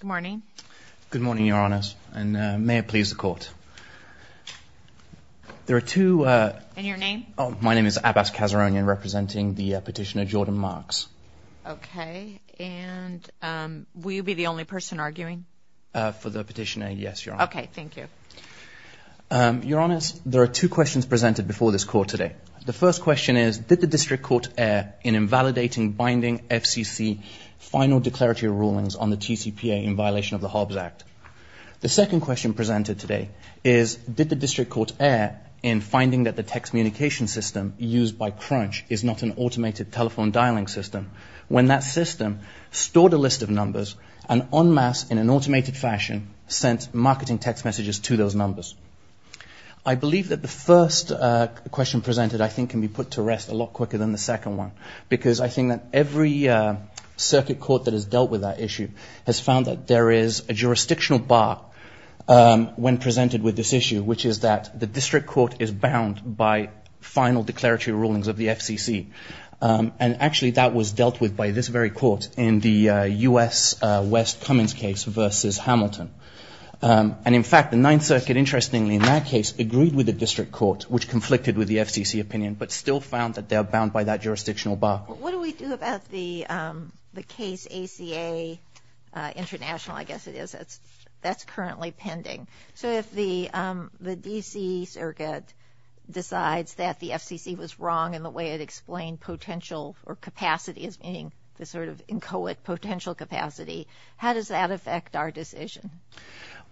Good morning. Good morning, Your Honors, and may it please the Court. There are two... And your name? Oh, my name is Abbas Kazaronian, representing the petitioner Jordan Marks. Okay, and will you be the only person arguing? For the petitioner, yes, Your Honor. Okay, thank you. Your Honors, there are two questions presented before this Court today. The first question is, did the District Court err in invalidating binding FCC final declaratory rulings on the TCPA in violation of the Hobbs Act? The second question presented today is, did the District Court err in finding that the text communication system used by Crunch is not an automated telephone dialing system when that system stored a list of numbers and en masse, in an automated fashion, sent marketing text messages to those numbers? I believe that the first question presented, I think, can be put to rest a lot quicker than the second one, because I think that every circuit court that has dealt with that issue has found that there is a jurisdictional bar when presented with this issue, which is that the District Court is bound by final declaratory rulings of the FCC. And actually, that was dealt with by this very court in the U.S. West Cummins case versus Hamilton. And in fact, the Ninth Circuit, interestingly, in that case, agreed with the District Court, which conflicted with the FCC opinion, but still found that they are bound by that jurisdictional bar. What do we do about the case ACA International, I guess it is? That's currently pending. So if the D.C. Circuit decides that the FCC was wrong in the way it explained potential or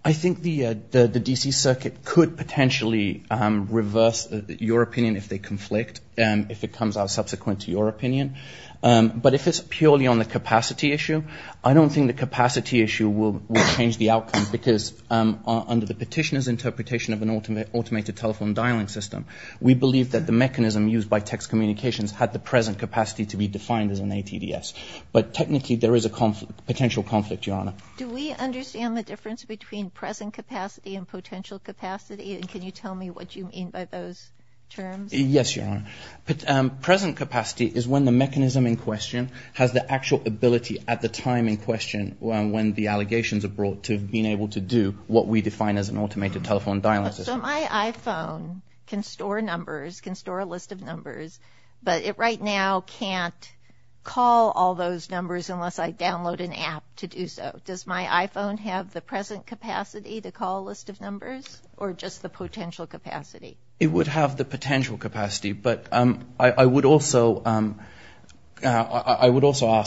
I think the D.C. Circuit could potentially reverse your opinion if they conflict, if it comes out subsequent to your opinion. But if it's purely on the capacity issue, I don't think the capacity issue will change the outcome, because under the petitioner's interpretation of an automated telephone dialing system, we believe that the mechanism used by text communications had the present capacity to be defined as an ATDS. But technically, there is a potential conflict, Your Honor. Do we understand the difference between present capacity and potential capacity? And can you tell me what you mean by those terms? Yes, Your Honor. Present capacity is when the mechanism in question has the actual ability at the time in question when the allegations are brought to being able to do what we define as an automated telephone dialing system. So my iPhone can store numbers, can store a list of numbers, but it right now can't call all those numbers unless I download an app to do so. Does my iPhone have the present capacity to call a list of numbers, or just the potential capacity? It would have the potential capacity, but I would also ask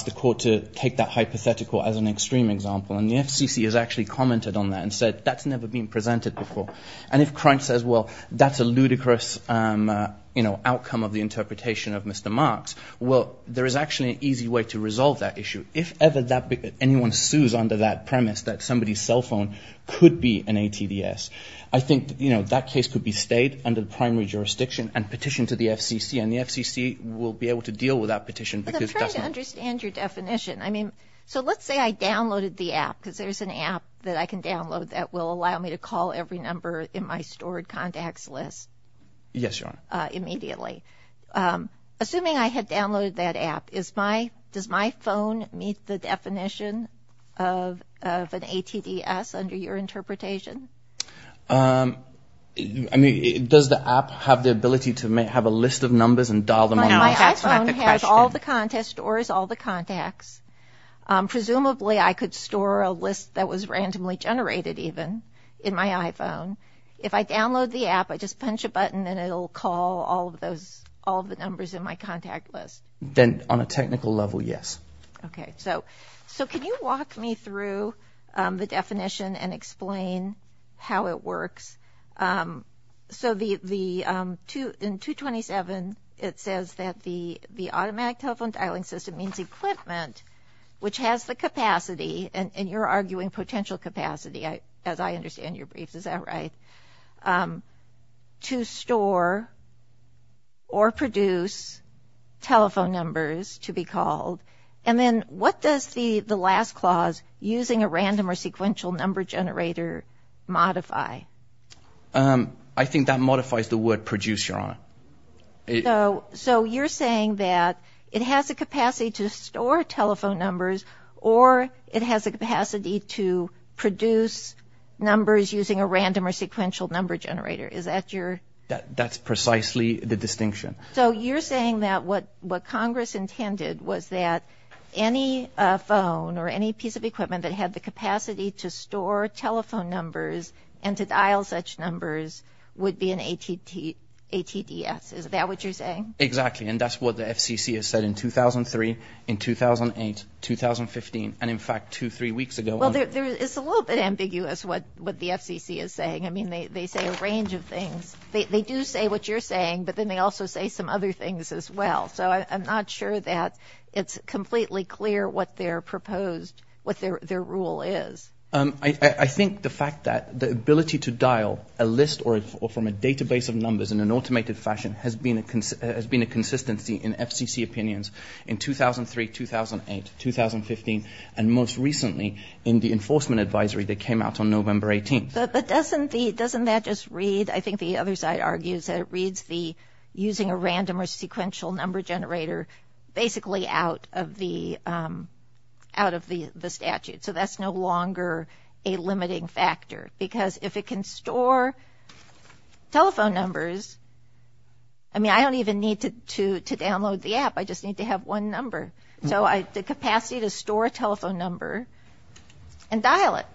the court to take that hypothetical as an extreme example. And the FCC has actually commented on that and said that's never been presented before. And if Crunch says, well, that's a ludicrous outcome of the interpretation of Mr. Marks, well, there is actually an easy way to resolve that issue. If ever anyone sues under that premise that somebody's cell phone could be an ATDS, I think that case could be stayed under the primary jurisdiction and petitioned to the FCC. And the FCC will be able to deal with that petition because it doesn't... But I'm trying to understand your definition. I mean, so let's say I downloaded the app because there's an app that I can download that will allow me to call every number in my stored contacts list. Yes, Your Honor. ...immediately. Assuming I had downloaded that app, does my phone meet the definition of an ATDS under your interpretation? I mean, does the app have the ability to have a list of numbers and dial them on my iPhone? My iPhone has all the contacts, stores all the contacts. Presumably, I could store a list that was randomly generated even in my iPhone. If I download the app, I just punch a button and it'll call all of the numbers in my contact list. Then, on a technical level, yes. Okay. So can you walk me through the definition and explain how it works? So in 227, it says that the automatic telephone dialing system means equipment, which has the capacity, and you're arguing potential capacity, as I understand your briefs. Is that right? To store or produce telephone numbers to be called. And then what does the last clause, using a random or sequential number generator, modify? I think that modifies the word produce, Your Honor. So you're saying that it has the capacity to store telephone numbers, or it has the capacity to produce numbers using a random or sequential number generator. Is that your... That's precisely the distinction. So you're saying that what Congress intended was that any phone or any piece of equipment that had the capacity to store telephone numbers and to dial such numbers would be an ATDS. Is that what you're saying? Exactly. And that's what the FCC has said in 2003, in 2008, 2015, and in fact two, three weeks ago. Well, it's a little bit ambiguous what the FCC is saying. I mean, they say a range of things. They do say what you're saying, but then they also say some other things as well. So I'm not sure that it's completely clear what their proposed, what their rule is. I think the fact that the ability to dial a list or from a database of numbers in an automated fashion has been a consistency in FCC opinions in 2003, 2008, 2015, and most recently in the enforcement advisory that came out on November 18th. But doesn't that just read, I think the other side argues, that it reads the using a random or sequential number generator basically out of the statute. So that's no longer a limiting factor, because if it can store telephone numbers, I mean, I don't even need to download the app. I just need to have one number. So the capacity to store a telephone number and dial it.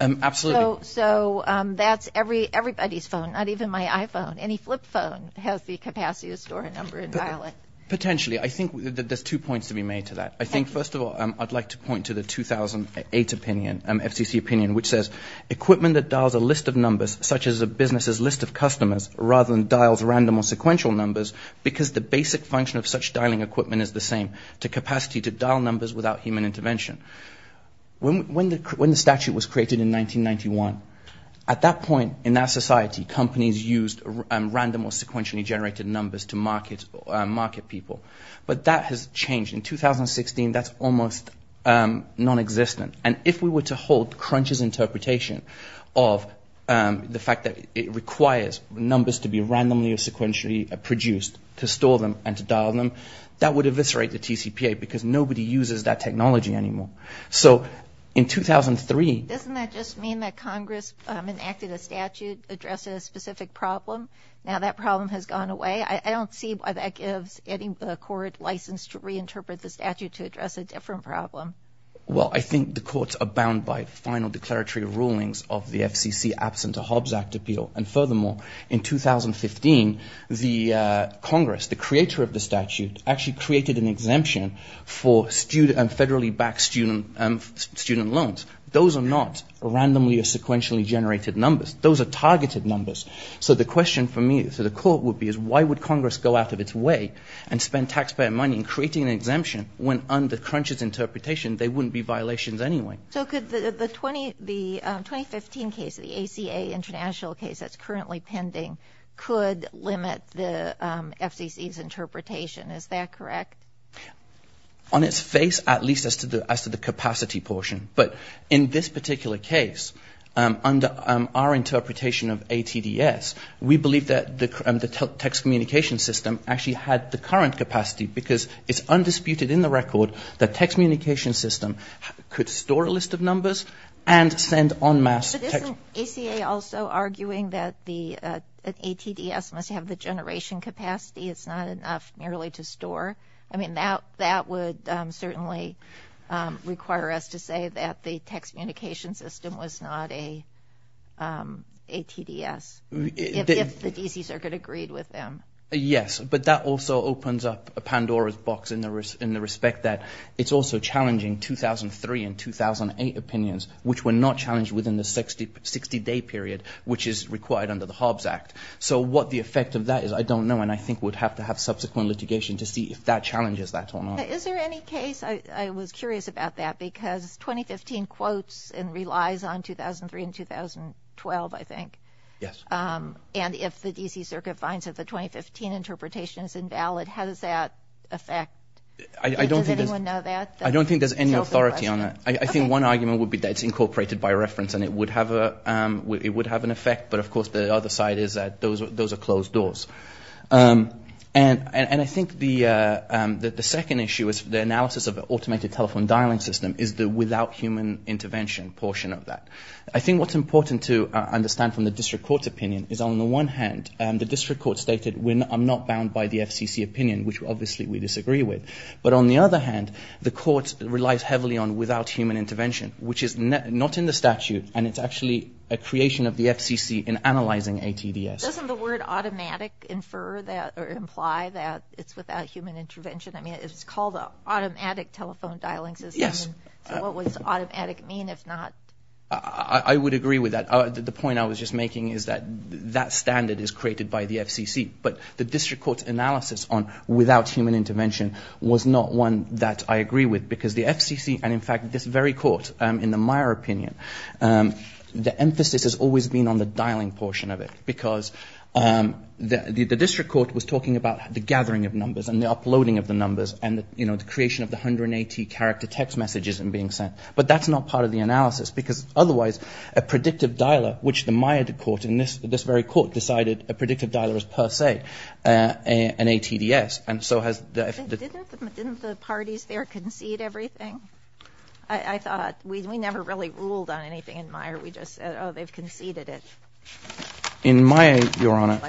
Absolutely. So that's everybody's phone, not even my iPhone. Any flip phone has the capacity to store a number and dial it. Potentially. I think there's two points to be made to that. I think, first of all, I'd like to point to the 2008 opinion, FCC opinion, which says, equipment that dials a list of numbers, such as a business's list of customers, rather than dials random or sequential numbers, because the basic function of such dialing equipment is the same, the capacity to dial numbers without human intervention. When the statute was created in 1991, at that point in that society, companies used random or sequentially generated numbers to market people. But that has changed. In 2016, that's almost non-existent. And if we were to hold Crunch's interpretation of the fact that it requires numbers to be randomly or sequentially produced to store them and to dial them, that would eviscerate the TCPA, because nobody uses that technology anymore. So in 2003... Doesn't that just mean that Congress enacted a statute addressing a specific problem? Now that problem has gone away. I don't see why that gives any court license to reinterpret the statute to address a different problem. Well, I think the courts are bound by final declaratory rulings of the FCC absent a Hobbs Act appeal. And furthermore, in 2015, the Congress, the creator of the statute, actually created an exemption for federally backed student loans. Those are not randomly or sequentially generated numbers. Those are targeted numbers. So the question for me, for the court, would be, is why would Congress go out of its way and spend taxpayer money in creating an exemption when, under Crunch's interpretation, there wouldn't be violations anyway? So could the 2015 case, the ACA international case that's currently pending, could limit the FCC's interpretation. Is that correct? On its face, at least as to the capacity portion. But in this particular case, under our interpretation of ATDS, we believe that the text communication system actually had the current capacity. Because it's undisputed in the record that text communication system could store a list of numbers and send en masse text. But isn't ACA also arguing that the ATDS must have the generation capacity? It's not enough merely to store? I mean, that would certainly require us to say that the text communication system was not a TDS, if the DC Circuit agreed with them. Yes. But that also opens up a Pandora's box in the respect that it's also challenging 2003 and 2008 opinions, which were not challenged within the 60-day period, which is required under the Hobbs Act. So what the effect of that is, I don't know. And I think we'd have to have subsequent litigation to see if that challenges that or not. Is there any case, I was curious about that, because 2015 quotes and relies on 2003 and 2012, I think. And if the DC Circuit finds that the 2015 interpretation is invalid, how does that affect? Does anyone know that? I don't think there's any authority on that. I think one argument would be that it's incorporated by reference and it would have an effect. But of course, the other side is that those are closed doors. And I think the second issue is the analysis of automated telephone dialing system is the without human intervention portion of that. I think what's important to understand from the district court's opinion is on the one hand, the district court stated, I'm not bound by the FCC opinion, which obviously we disagree with. But on the other hand, the court relies heavily on without human intervention, which is not in the statute and it's actually a creation of the FCC in analyzing a TDS. Doesn't the word automatic imply that it's without human intervention? I mean, it's called an automatic telephone dialing system. What does automatic mean if not? I would agree with that. The point I was just making is that that standard is created by the FCC. But the district court's analysis on without human intervention was not one that I agree with because the FCC, and in fact, this very court, in the Meyer opinion, the emphasis has always been on the dialing portion of it because the district court was talking about the gathering of numbers and the uploading of the numbers and the creation of the 180 character text messages being sent. But that's not part of the analysis because otherwise a predictive dialer, which the Meyer court in this very court decided a predictive dialer is per se an ATDS. And so hasn't the parties there conceded everything? I thought we never really ruled on anything in Meyer. We just said, oh, they've conceded it. In my, Your Honor,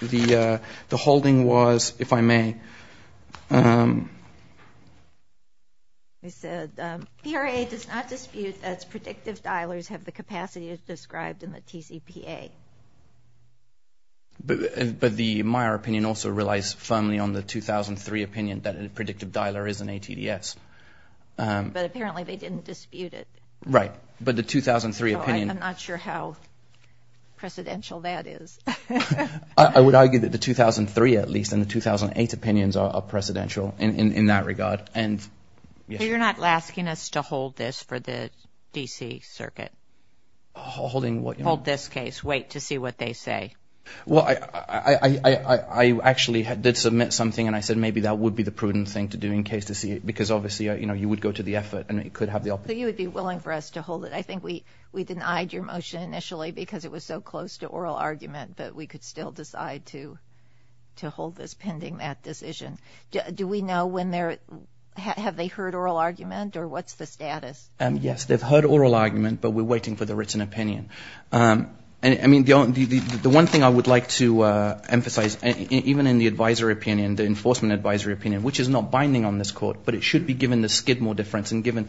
the holding was, if I may. They said, PRA does not dispute that predictive dialers have the capacity as described in the TCPA. But the Meyer opinion also relies firmly on the 2003 opinion that a predictive dialer is an ATDS. But apparently they didn't dispute it. Right. But the 2003 opinion. I'm not sure how precedential that is. I would argue that the 2003, at least, and the 2008 opinions are precedential in that regard. And you're not asking us to hold this for the D.C. Circuit. Holding what? Hold this case. Wait to see what they say. Well, I actually did submit something and I said maybe that would be the prudent thing to do in case to see it because obviously, you know, you would go to the effort and it could have the. So you would be willing for us to hold it. I think we denied your motion initially because it was so close to oral argument, but we could still decide to hold this pending that decision. Do we know when they're, have they heard oral argument or what's the status? Yes, they've heard oral argument, but we're waiting for the written opinion. I mean, the one thing I would like to emphasize, even in the advisory opinion, the enforcement advisory opinion, which is not binding on this court, but it should be given the skid And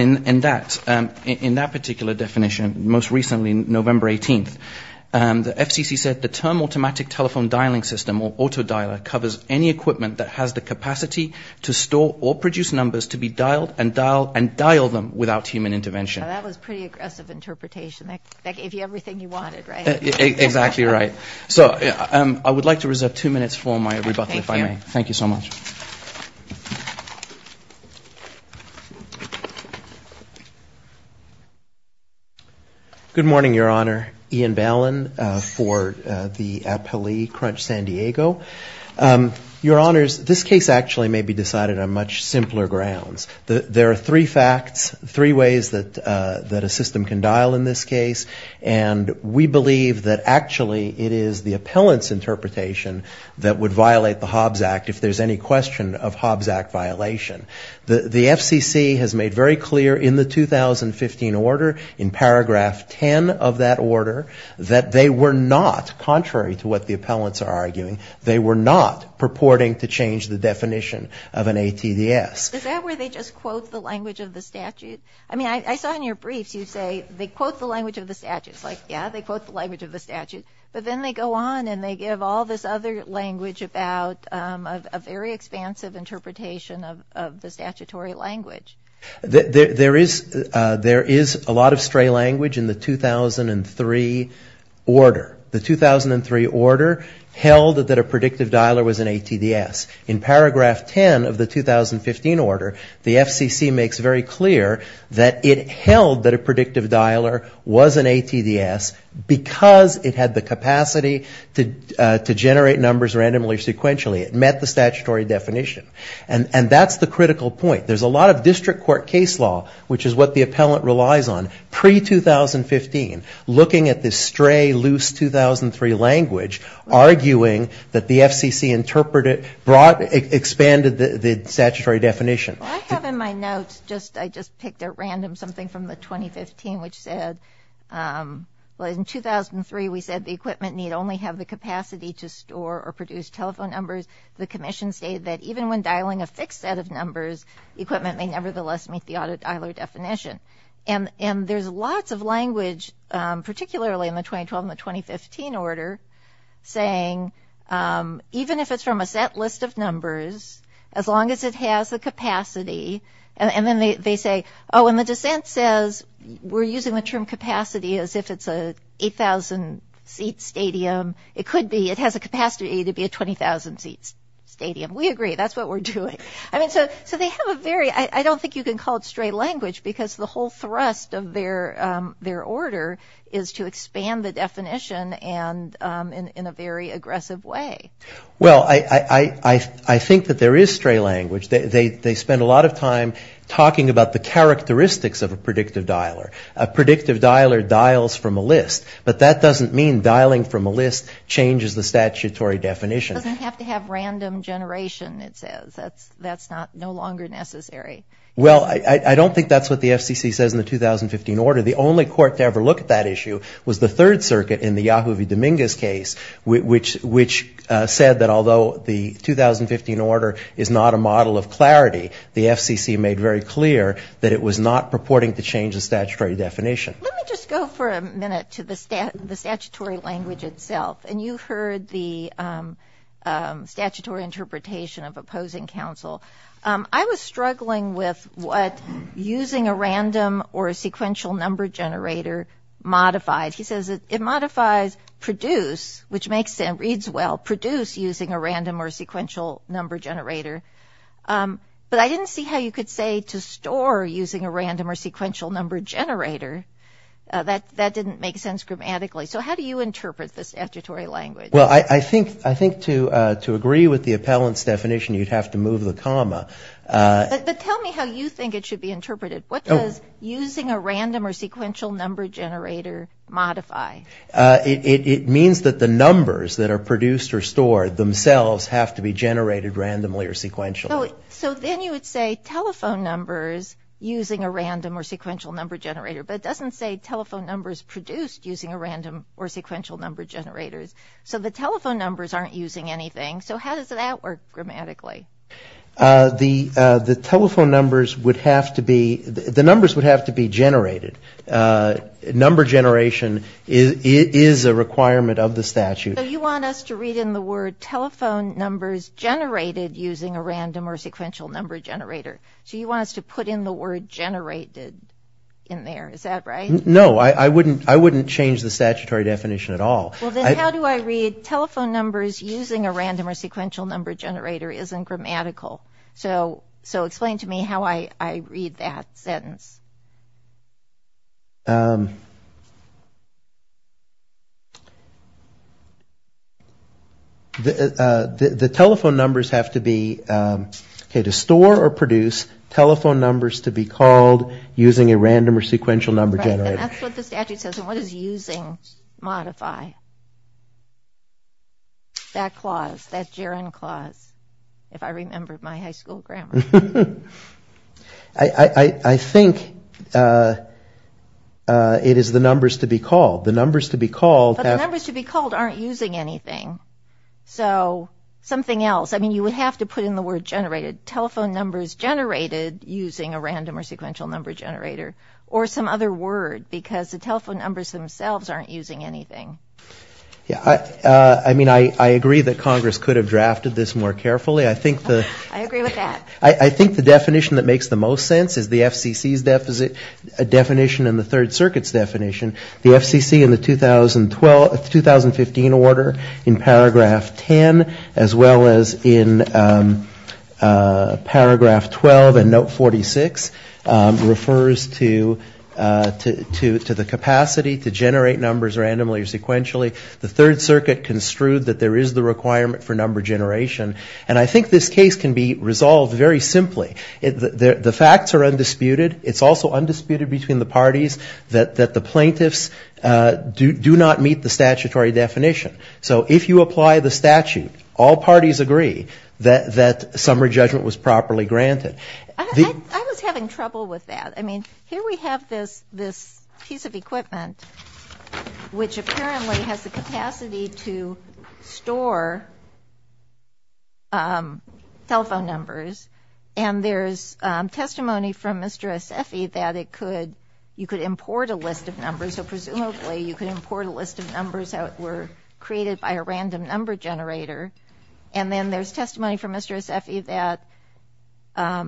in that, in that particular definition, most recently, November 18th, the FCC said the term automatic telephone dialing system or auto dialer covers any equipment that has the capacity to store or produce numbers to be dialed and dialed and dialed them without human intervention. That was pretty aggressive interpretation that gave you everything you wanted, right? Exactly right. So I would like to reserve two minutes for my rebuttal, if I may. Thank you so much. Good morning, Your Honor. Ian Ballin for the appellee Crunch San Diego. Your Honors, this case actually may be decided on much simpler grounds. There are three facts, three ways that a system can dial in this case, and we believe that actually it is the appellant's interpretation that would violate the Hobbs Act if there's any question of Hobbs Act violation. The FCC has made very clear in the 2015 order, in paragraph 10 of that order, that they were not, contrary to what the appellants are arguing, they were not purporting to change the definition of an ATDS. Is that where they just quote the language of the statute? I mean, I saw in your briefs, you say they quote the language of the statute. It's like, yeah, they quote the language of the statute, but then they go on and they give all this other language about a very expansive interpretation of the statutory language. There is a lot of stray language in the 2003 order. The 2003 order held that a predictive dialer was an ATDS. In paragraph 10 of the 2015 order, the FCC makes very clear that it held that a predictive dialer was an ATDS because it had the capacity to generate numbers randomly or sequentially. It met the statutory definition. And that's the critical point. There's a lot of district court case law, which is what the appellant relies on, pre-2015, looking at this stray, loose 2003 language, arguing that the FCC expanded the statutory definition. What I have in my notes, I just picked a random something from the 2015, which said, in 2003, we said the equipment need only have the capacity to store or produce telephone numbers. The commission stated that even when dialing a fixed set of numbers, equipment may nevertheless meet the audit dialer definition. And there's lots of language, particularly in the 2012 and the 2015 order, saying even if it's from a set list of numbers, as long as it has the capacity, and then they say, oh, and the dissent says we're using the term capacity as if it's an 8,000 seat stadium. It could be. It has a capacity to be a 20,000 seat stadium. We agree. That's what we're doing. I mean, so they have a very, I don't think you can call it stray language because the whole thrust of their order is to expand the definition and in a very aggressive way. Well, I think that there is stray language. They spend a lot of time talking about the characteristics of a predictive dialer. A predictive dialer dials from a list, but that doesn't mean dialing from a list changes the statutory definition. It doesn't have to have random generation, it says. That's no longer necessary. Well, I don't think that's what the FCC says in the 2015 order. The only court to ever look at that issue was the Third Circuit in the Yahoo v. Dominguez case, which said that although the 2015 order is not a model of clarity, the FCC made very clear that it was not purporting to change the statutory definition. Let me just go for a minute to the statutory language itself. And you heard the statutory interpretation of opposing counsel. I was struggling with what using a random or a sequential number generator modified. He says it modifies produce, which makes sense, reads well, produce using a random or sequential number generator. But I didn't see how you could say to store using a random or sequential number generator. That didn't make sense grammatically. So how do you interpret the statutory language? Well, I think to agree with the appellant's definition, you'd have to move the comma. But tell me how you think it should be interpreted. What does using a random or sequential number generator modify? It means that the numbers that are produced or stored themselves have to be generated randomly or sequentially. So then you would say telephone numbers using a random or sequential number generator, but it doesn't say telephone numbers produced using a random or sequential number generators. So the telephone numbers aren't using anything. So how does that work grammatically? The telephone numbers would have to be the numbers would have to be generated. Number generation is a requirement of the statute. So you want us to read in the word telephone numbers generated using a random or sequential number generator. So you want us to put in the word generated in there. Is that right? No, I wouldn't. I wouldn't change the statutory definition at all. Well, then how do I read telephone numbers using a random or sequential number generator isn't grammatical. So explain to me how I read that sentence. The telephone numbers have to be, okay, to store or produce telephone numbers to be called using a random or sequential number generator. Right, and that's what the statute says. And what does using modify? That clause, that gerund clause, if I remember my high school grammar. I think it is the numbers to be called. The numbers to be called. But the numbers to be called aren't using anything. So something else. I mean, you would have to put in the word generated telephone numbers generated using a random or sequential number generator or some other word because the telephone numbers themselves aren't using anything. I mean, I agree that Congress could have drafted this more carefully. I agree with that. I think the definition that makes the most sense is the FCC's definition and the Third Circuit's definition. The FCC in the 2015 order in paragraph 10 as well as in paragraph 12 and note 46 refers to the capacity to generate numbers randomly or sequentially. The Third Circuit construed that there is the requirement for number generation. And I think this case can be resolved very simply. The facts are undisputed. It's also undisputed between the parties that the plaintiffs do not meet the statutory definition. So if you apply the statute, all parties agree that summary judgment was properly granted. I was having trouble with that. I mean, here we have this piece of equipment which apparently has the capacity to store telephone numbers. And there's testimony from Mr. Assefi that it could, you could import a list of numbers. So presumably you could import a list of numbers that were created by a random number generator. And then there's testimony from Mr. Assefi that a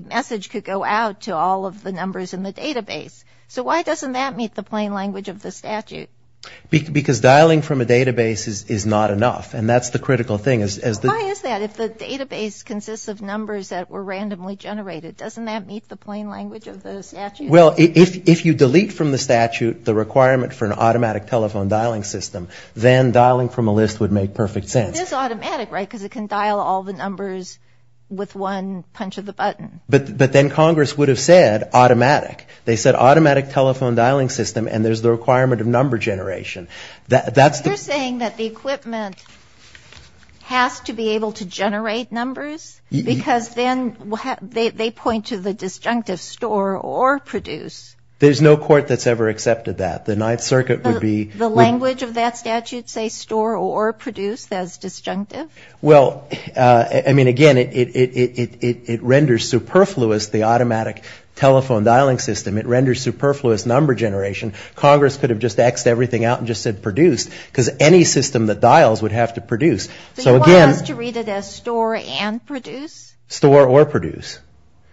message could go out to all of the numbers in the database. So why doesn't that meet the plain language of the statute? Because dialing from a database is not enough. And that's the critical thing. Why is that? If the database consists of numbers that were randomly generated, doesn't that meet the plain language of the statute? Well, if you delete from the statute the requirement for an automatic telephone dialing system, then dialing from a list would make perfect sense. But it is automatic, right, because it can dial all the numbers with one punch of the button. But then Congress would have said automatic. They said automatic telephone dialing system, and there's the requirement of number generation. That's the... You're saying that the equipment has to be able to generate numbers? Because then they point to the disjunctive store or produce. There's no court that's ever accepted that. The Ninth Circuit would be... The language of that statute say store or produce as disjunctive? Well, I mean, again, it renders superfluous the automatic telephone dialing system. It renders superfluous number generation. Congress could have just X'd everything out and just said produce, because any system that dials would have to produce. So again... So you want us to read it as store and produce? Store or produce.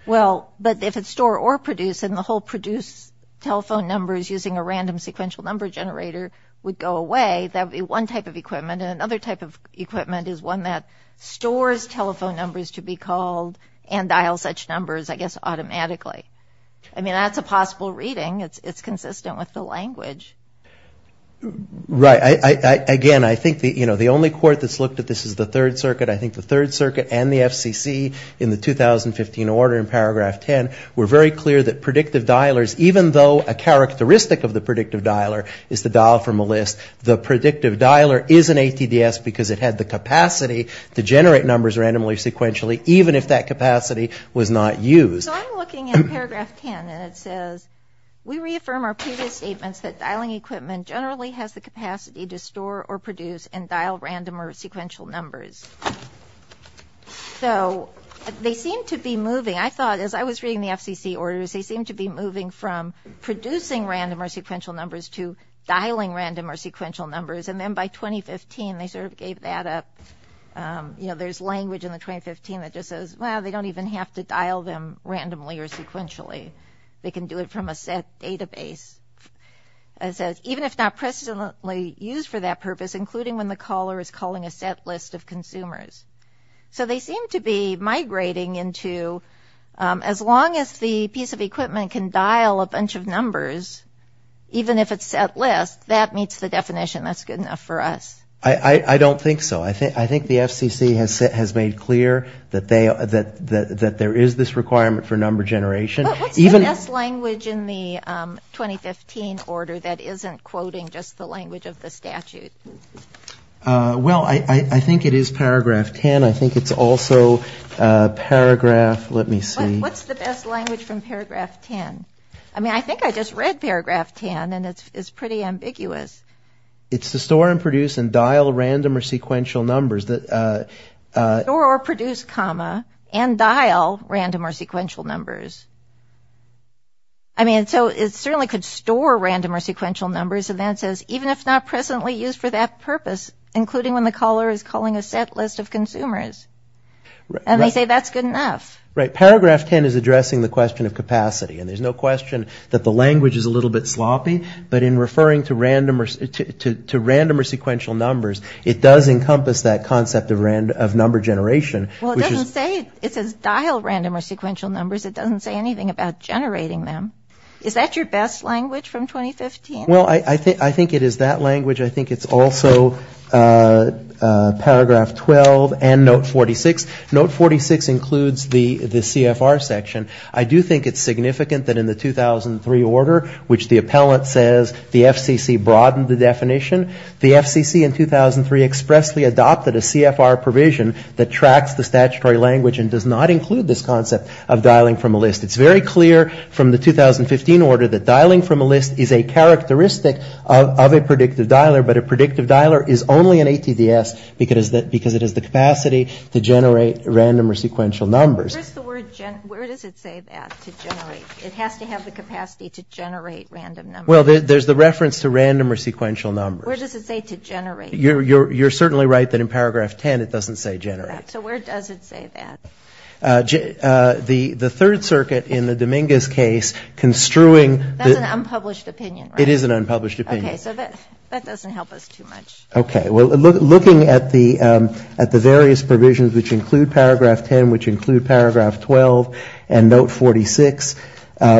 Well, but if it's store or produce, then the whole produce telephone number is using a would go away. That would be one type of equipment, and another type of equipment is one that stores telephone numbers to be called and dials such numbers, I guess, automatically. I mean, that's a possible reading. It's consistent with the language. Right. Again, I think the only court that's looked at this is the Third Circuit. I think the Third Circuit and the FCC in the 2015 order in paragraph 10 were very clear that predictive dialers, even though a characteristic of the predictive dialer is to dial from a list, the predictive dialer is an ATDS because it had the capacity to generate numbers randomly sequentially, even if that capacity was not used. So I'm looking at paragraph 10, and it says, We reaffirm our previous statements that dialing equipment generally has the capacity to store or produce and dial random or sequential numbers. So they seem to be moving. I thought, as I was reading the FCC orders, they seemed to be moving from producing random or sequential numbers to dialing random or sequential numbers. And then by 2015, they sort of gave that up. You know, there's language in the 2015 that just says, Well, they don't even have to dial them randomly or sequentially. They can do it from a set database. It says, Even if not precedently used for that purpose, including when the caller is calling a set list of consumers. So they seem to be migrating into, as long as the piece of equipment can dial a bunch of numbers, even if it's set list, that meets the definition. That's good enough for us. I don't think so. I think the FCC has made clear that there is this requirement for number generation. But what's the last language in the 2015 order that isn't quoting just the language of the statute? Well, I think it is Paragraph 10. I think it's also Paragraph, let me see. What's the best language from Paragraph 10? I mean, I think I just read Paragraph 10, and it's pretty ambiguous. It's to store and produce and dial random or sequential numbers. Store or produce, comma, and dial random or sequential numbers. I mean, so it certainly could store random or sequential numbers. And then it says, even if not presently used for that purpose, including when the caller is calling a set list of consumers. And they say that's good enough. Right. Paragraph 10 is addressing the question of capacity. And there's no question that the language is a little bit sloppy. But in referring to random or sequential numbers, it does encompass that concept of number generation. Well, it doesn't say, it says dial random or sequential numbers. It doesn't say anything about generating them. Is that your best language from 2015? Well, I think it is that language. I think it's also Paragraph 12 and Note 46. Note 46 includes the CFR section. I do think it's significant that in the 2003 order, which the appellant says the FCC broadened the definition, the FCC in 2003 expressly adopted a CFR provision that tracks the statutory language and does not include this concept of dialing from a list. It's very clear from the 2015 order that dialing from a list is a characteristic of a predictive dialer, but a predictive dialer is only an ATDS because it has the capacity to generate random or sequential numbers. Where does it say that, to generate? It has to have the capacity to generate random numbers. Well, there's the reference to random or sequential numbers. Where does it say to generate? You're certainly right that in Paragraph 10 it doesn't say generate. So where does it say that? The Third Circuit in the Dominguez case construing... That's an unpublished opinion, right? It is an unpublished opinion. Okay. So that doesn't help us too much. Okay. Well, looking at the various provisions which include Paragraph 10, which include Paragraph 12 and Note 46,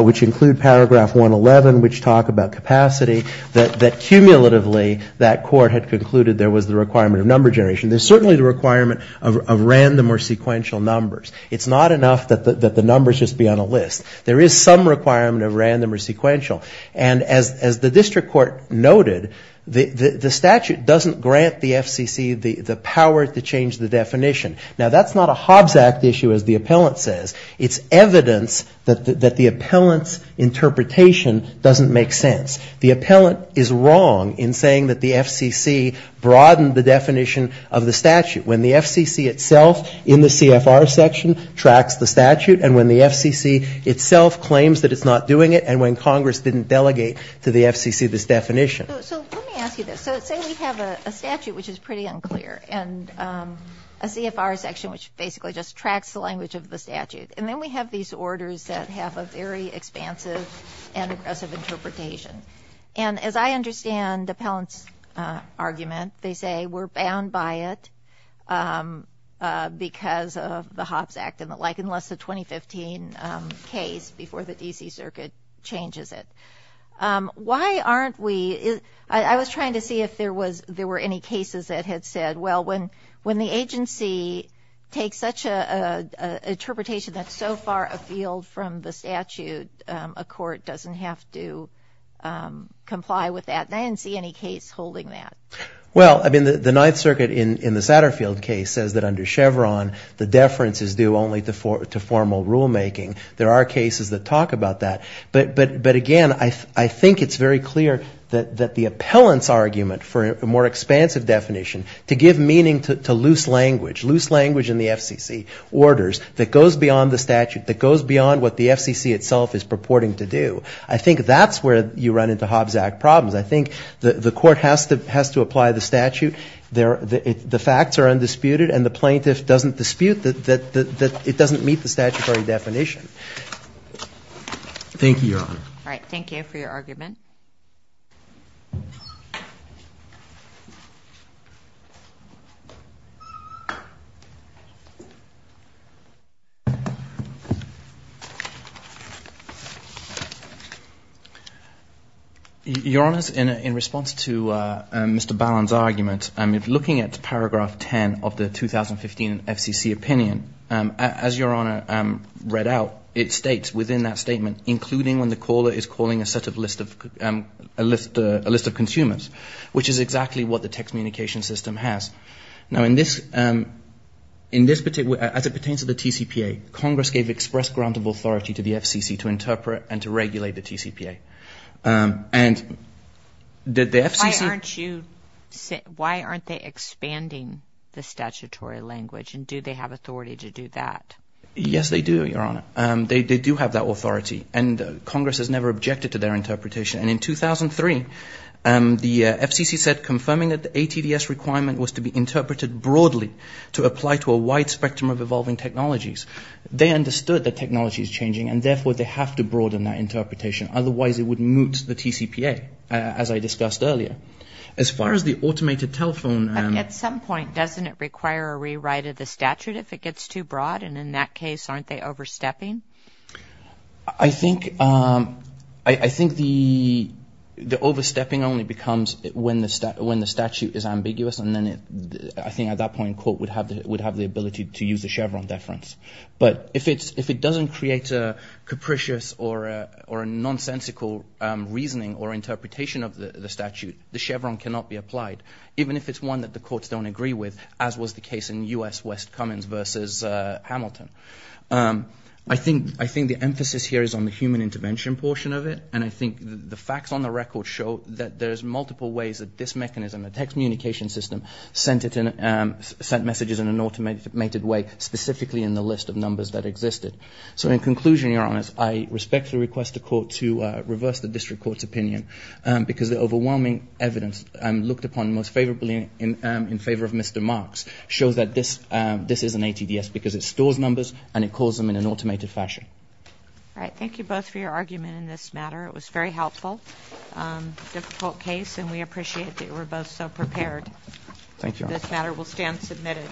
which include Paragraph 111, which talk about capacity, that cumulatively that court had concluded there was the requirement of number generation. There's certainly the requirement of random or sequential numbers. It's not enough that the numbers just be on a list. There is some requirement of random or sequential. And as the district court noted, the statute doesn't grant the FCC the power to change the definition. Now, that's not a Hobbs Act issue, as the appellant says. It's evidence that the appellant's interpretation doesn't make sense. The appellant is wrong in saying that the FCC broadened the definition of the number generation. That's not the definition of the statute. When the FCC itself in the CFR section tracks the statute, and when the FCC itself claims that it's not doing it, and when Congress didn't delegate to the FCC this definition. So let me ask you this. So say we have a statute which is pretty unclear, and a CFR section which basically just tracks the language of the statute. And then we have these orders that have a very expansive and aggressive interpretation. And as I understand the appellant's argument, they say, we're bound by it because of the Hobbs Act, like unless the 2015 case before the D.C. Circuit changes it. Why aren't we, I was trying to see if there were any cases that had said, well, when the agency takes such an interpretation that's so far afield from the statute, a court doesn't have to comply with that. And I didn't see any case holding that. Well, I mean, the Ninth Circuit in the Satterfield case says that under Chevron, the deference is due only to formal rulemaking. There are cases that talk about that. But again, I think it's very clear that the appellant's argument for a more expansive definition to give meaning to loose language, loose language in the FCC orders that goes beyond the statute, that goes beyond what the FCC itself is purporting to do. I think that's where you run into Hobbs Act problems. I think the court has to apply the statute. The facts are undisputed and the plaintiff doesn't dispute that it doesn't meet the statutory definition. Thank you, Your Honor. All right. Thank you for your argument. Your Honor, in response to Mr. Ballon's argument, looking at paragraph 10 of the 2015 FCC opinion, as Your Honor read out, it states within that statement, including when the caller is calling a list of consumers, which is exactly what the text communication system has. Now, in this particular, as it pertains to the TCPA, Congress gave express grant of authority to the FCC to interpret and to regulate the TCPA. And the FCC... Why aren't you, why aren't they expanding the statutory language? And do they have authority to do that? Yes, they do, Your Honor. They do have that authority. And Congress has never objected to their interpretation. And in 2003, the FCC said confirming that the ATDS requirement was to be interpreted broadly to apply to a wide spectrum of evolving technologies. They understood that technology is changing and therefore they have to broaden that interpretation. Otherwise, it would moot the TCPA, as I discussed earlier. As far as the automated telephone... At some point, doesn't it require a rewrite of the statute if it gets too broad? And in that case, aren't they overstepping? I think the overstepping only becomes when the statute is ambiguous. And then, I think at that point, court would have the ability to use the Chevron deference. But if it doesn't create a capricious or a nonsensical reasoning or interpretation of the statute, the Chevron cannot be applied, even if it's one that the courts don't agree with, as was the case in U.S. West Cummins versus Hamilton. I think the emphasis here is on the human intervention portion of it. And I think the facts on the record show that there's multiple ways that this mechanism, the text communication system, sent messages in an automated way, specifically in the list of numbers that existed. So in conclusion, Your Honor, I respectfully request the court to reverse the district court's opinion because the overwhelming evidence looked upon most favorably in favor of Mr. Marks shows that this is an ATDS because it stores numbers and it calls them in an automated fashion. All right. Thank you both for your argument in this matter. It was very helpful. A difficult case. And we appreciate that you were both so prepared. This matter will stand submitted.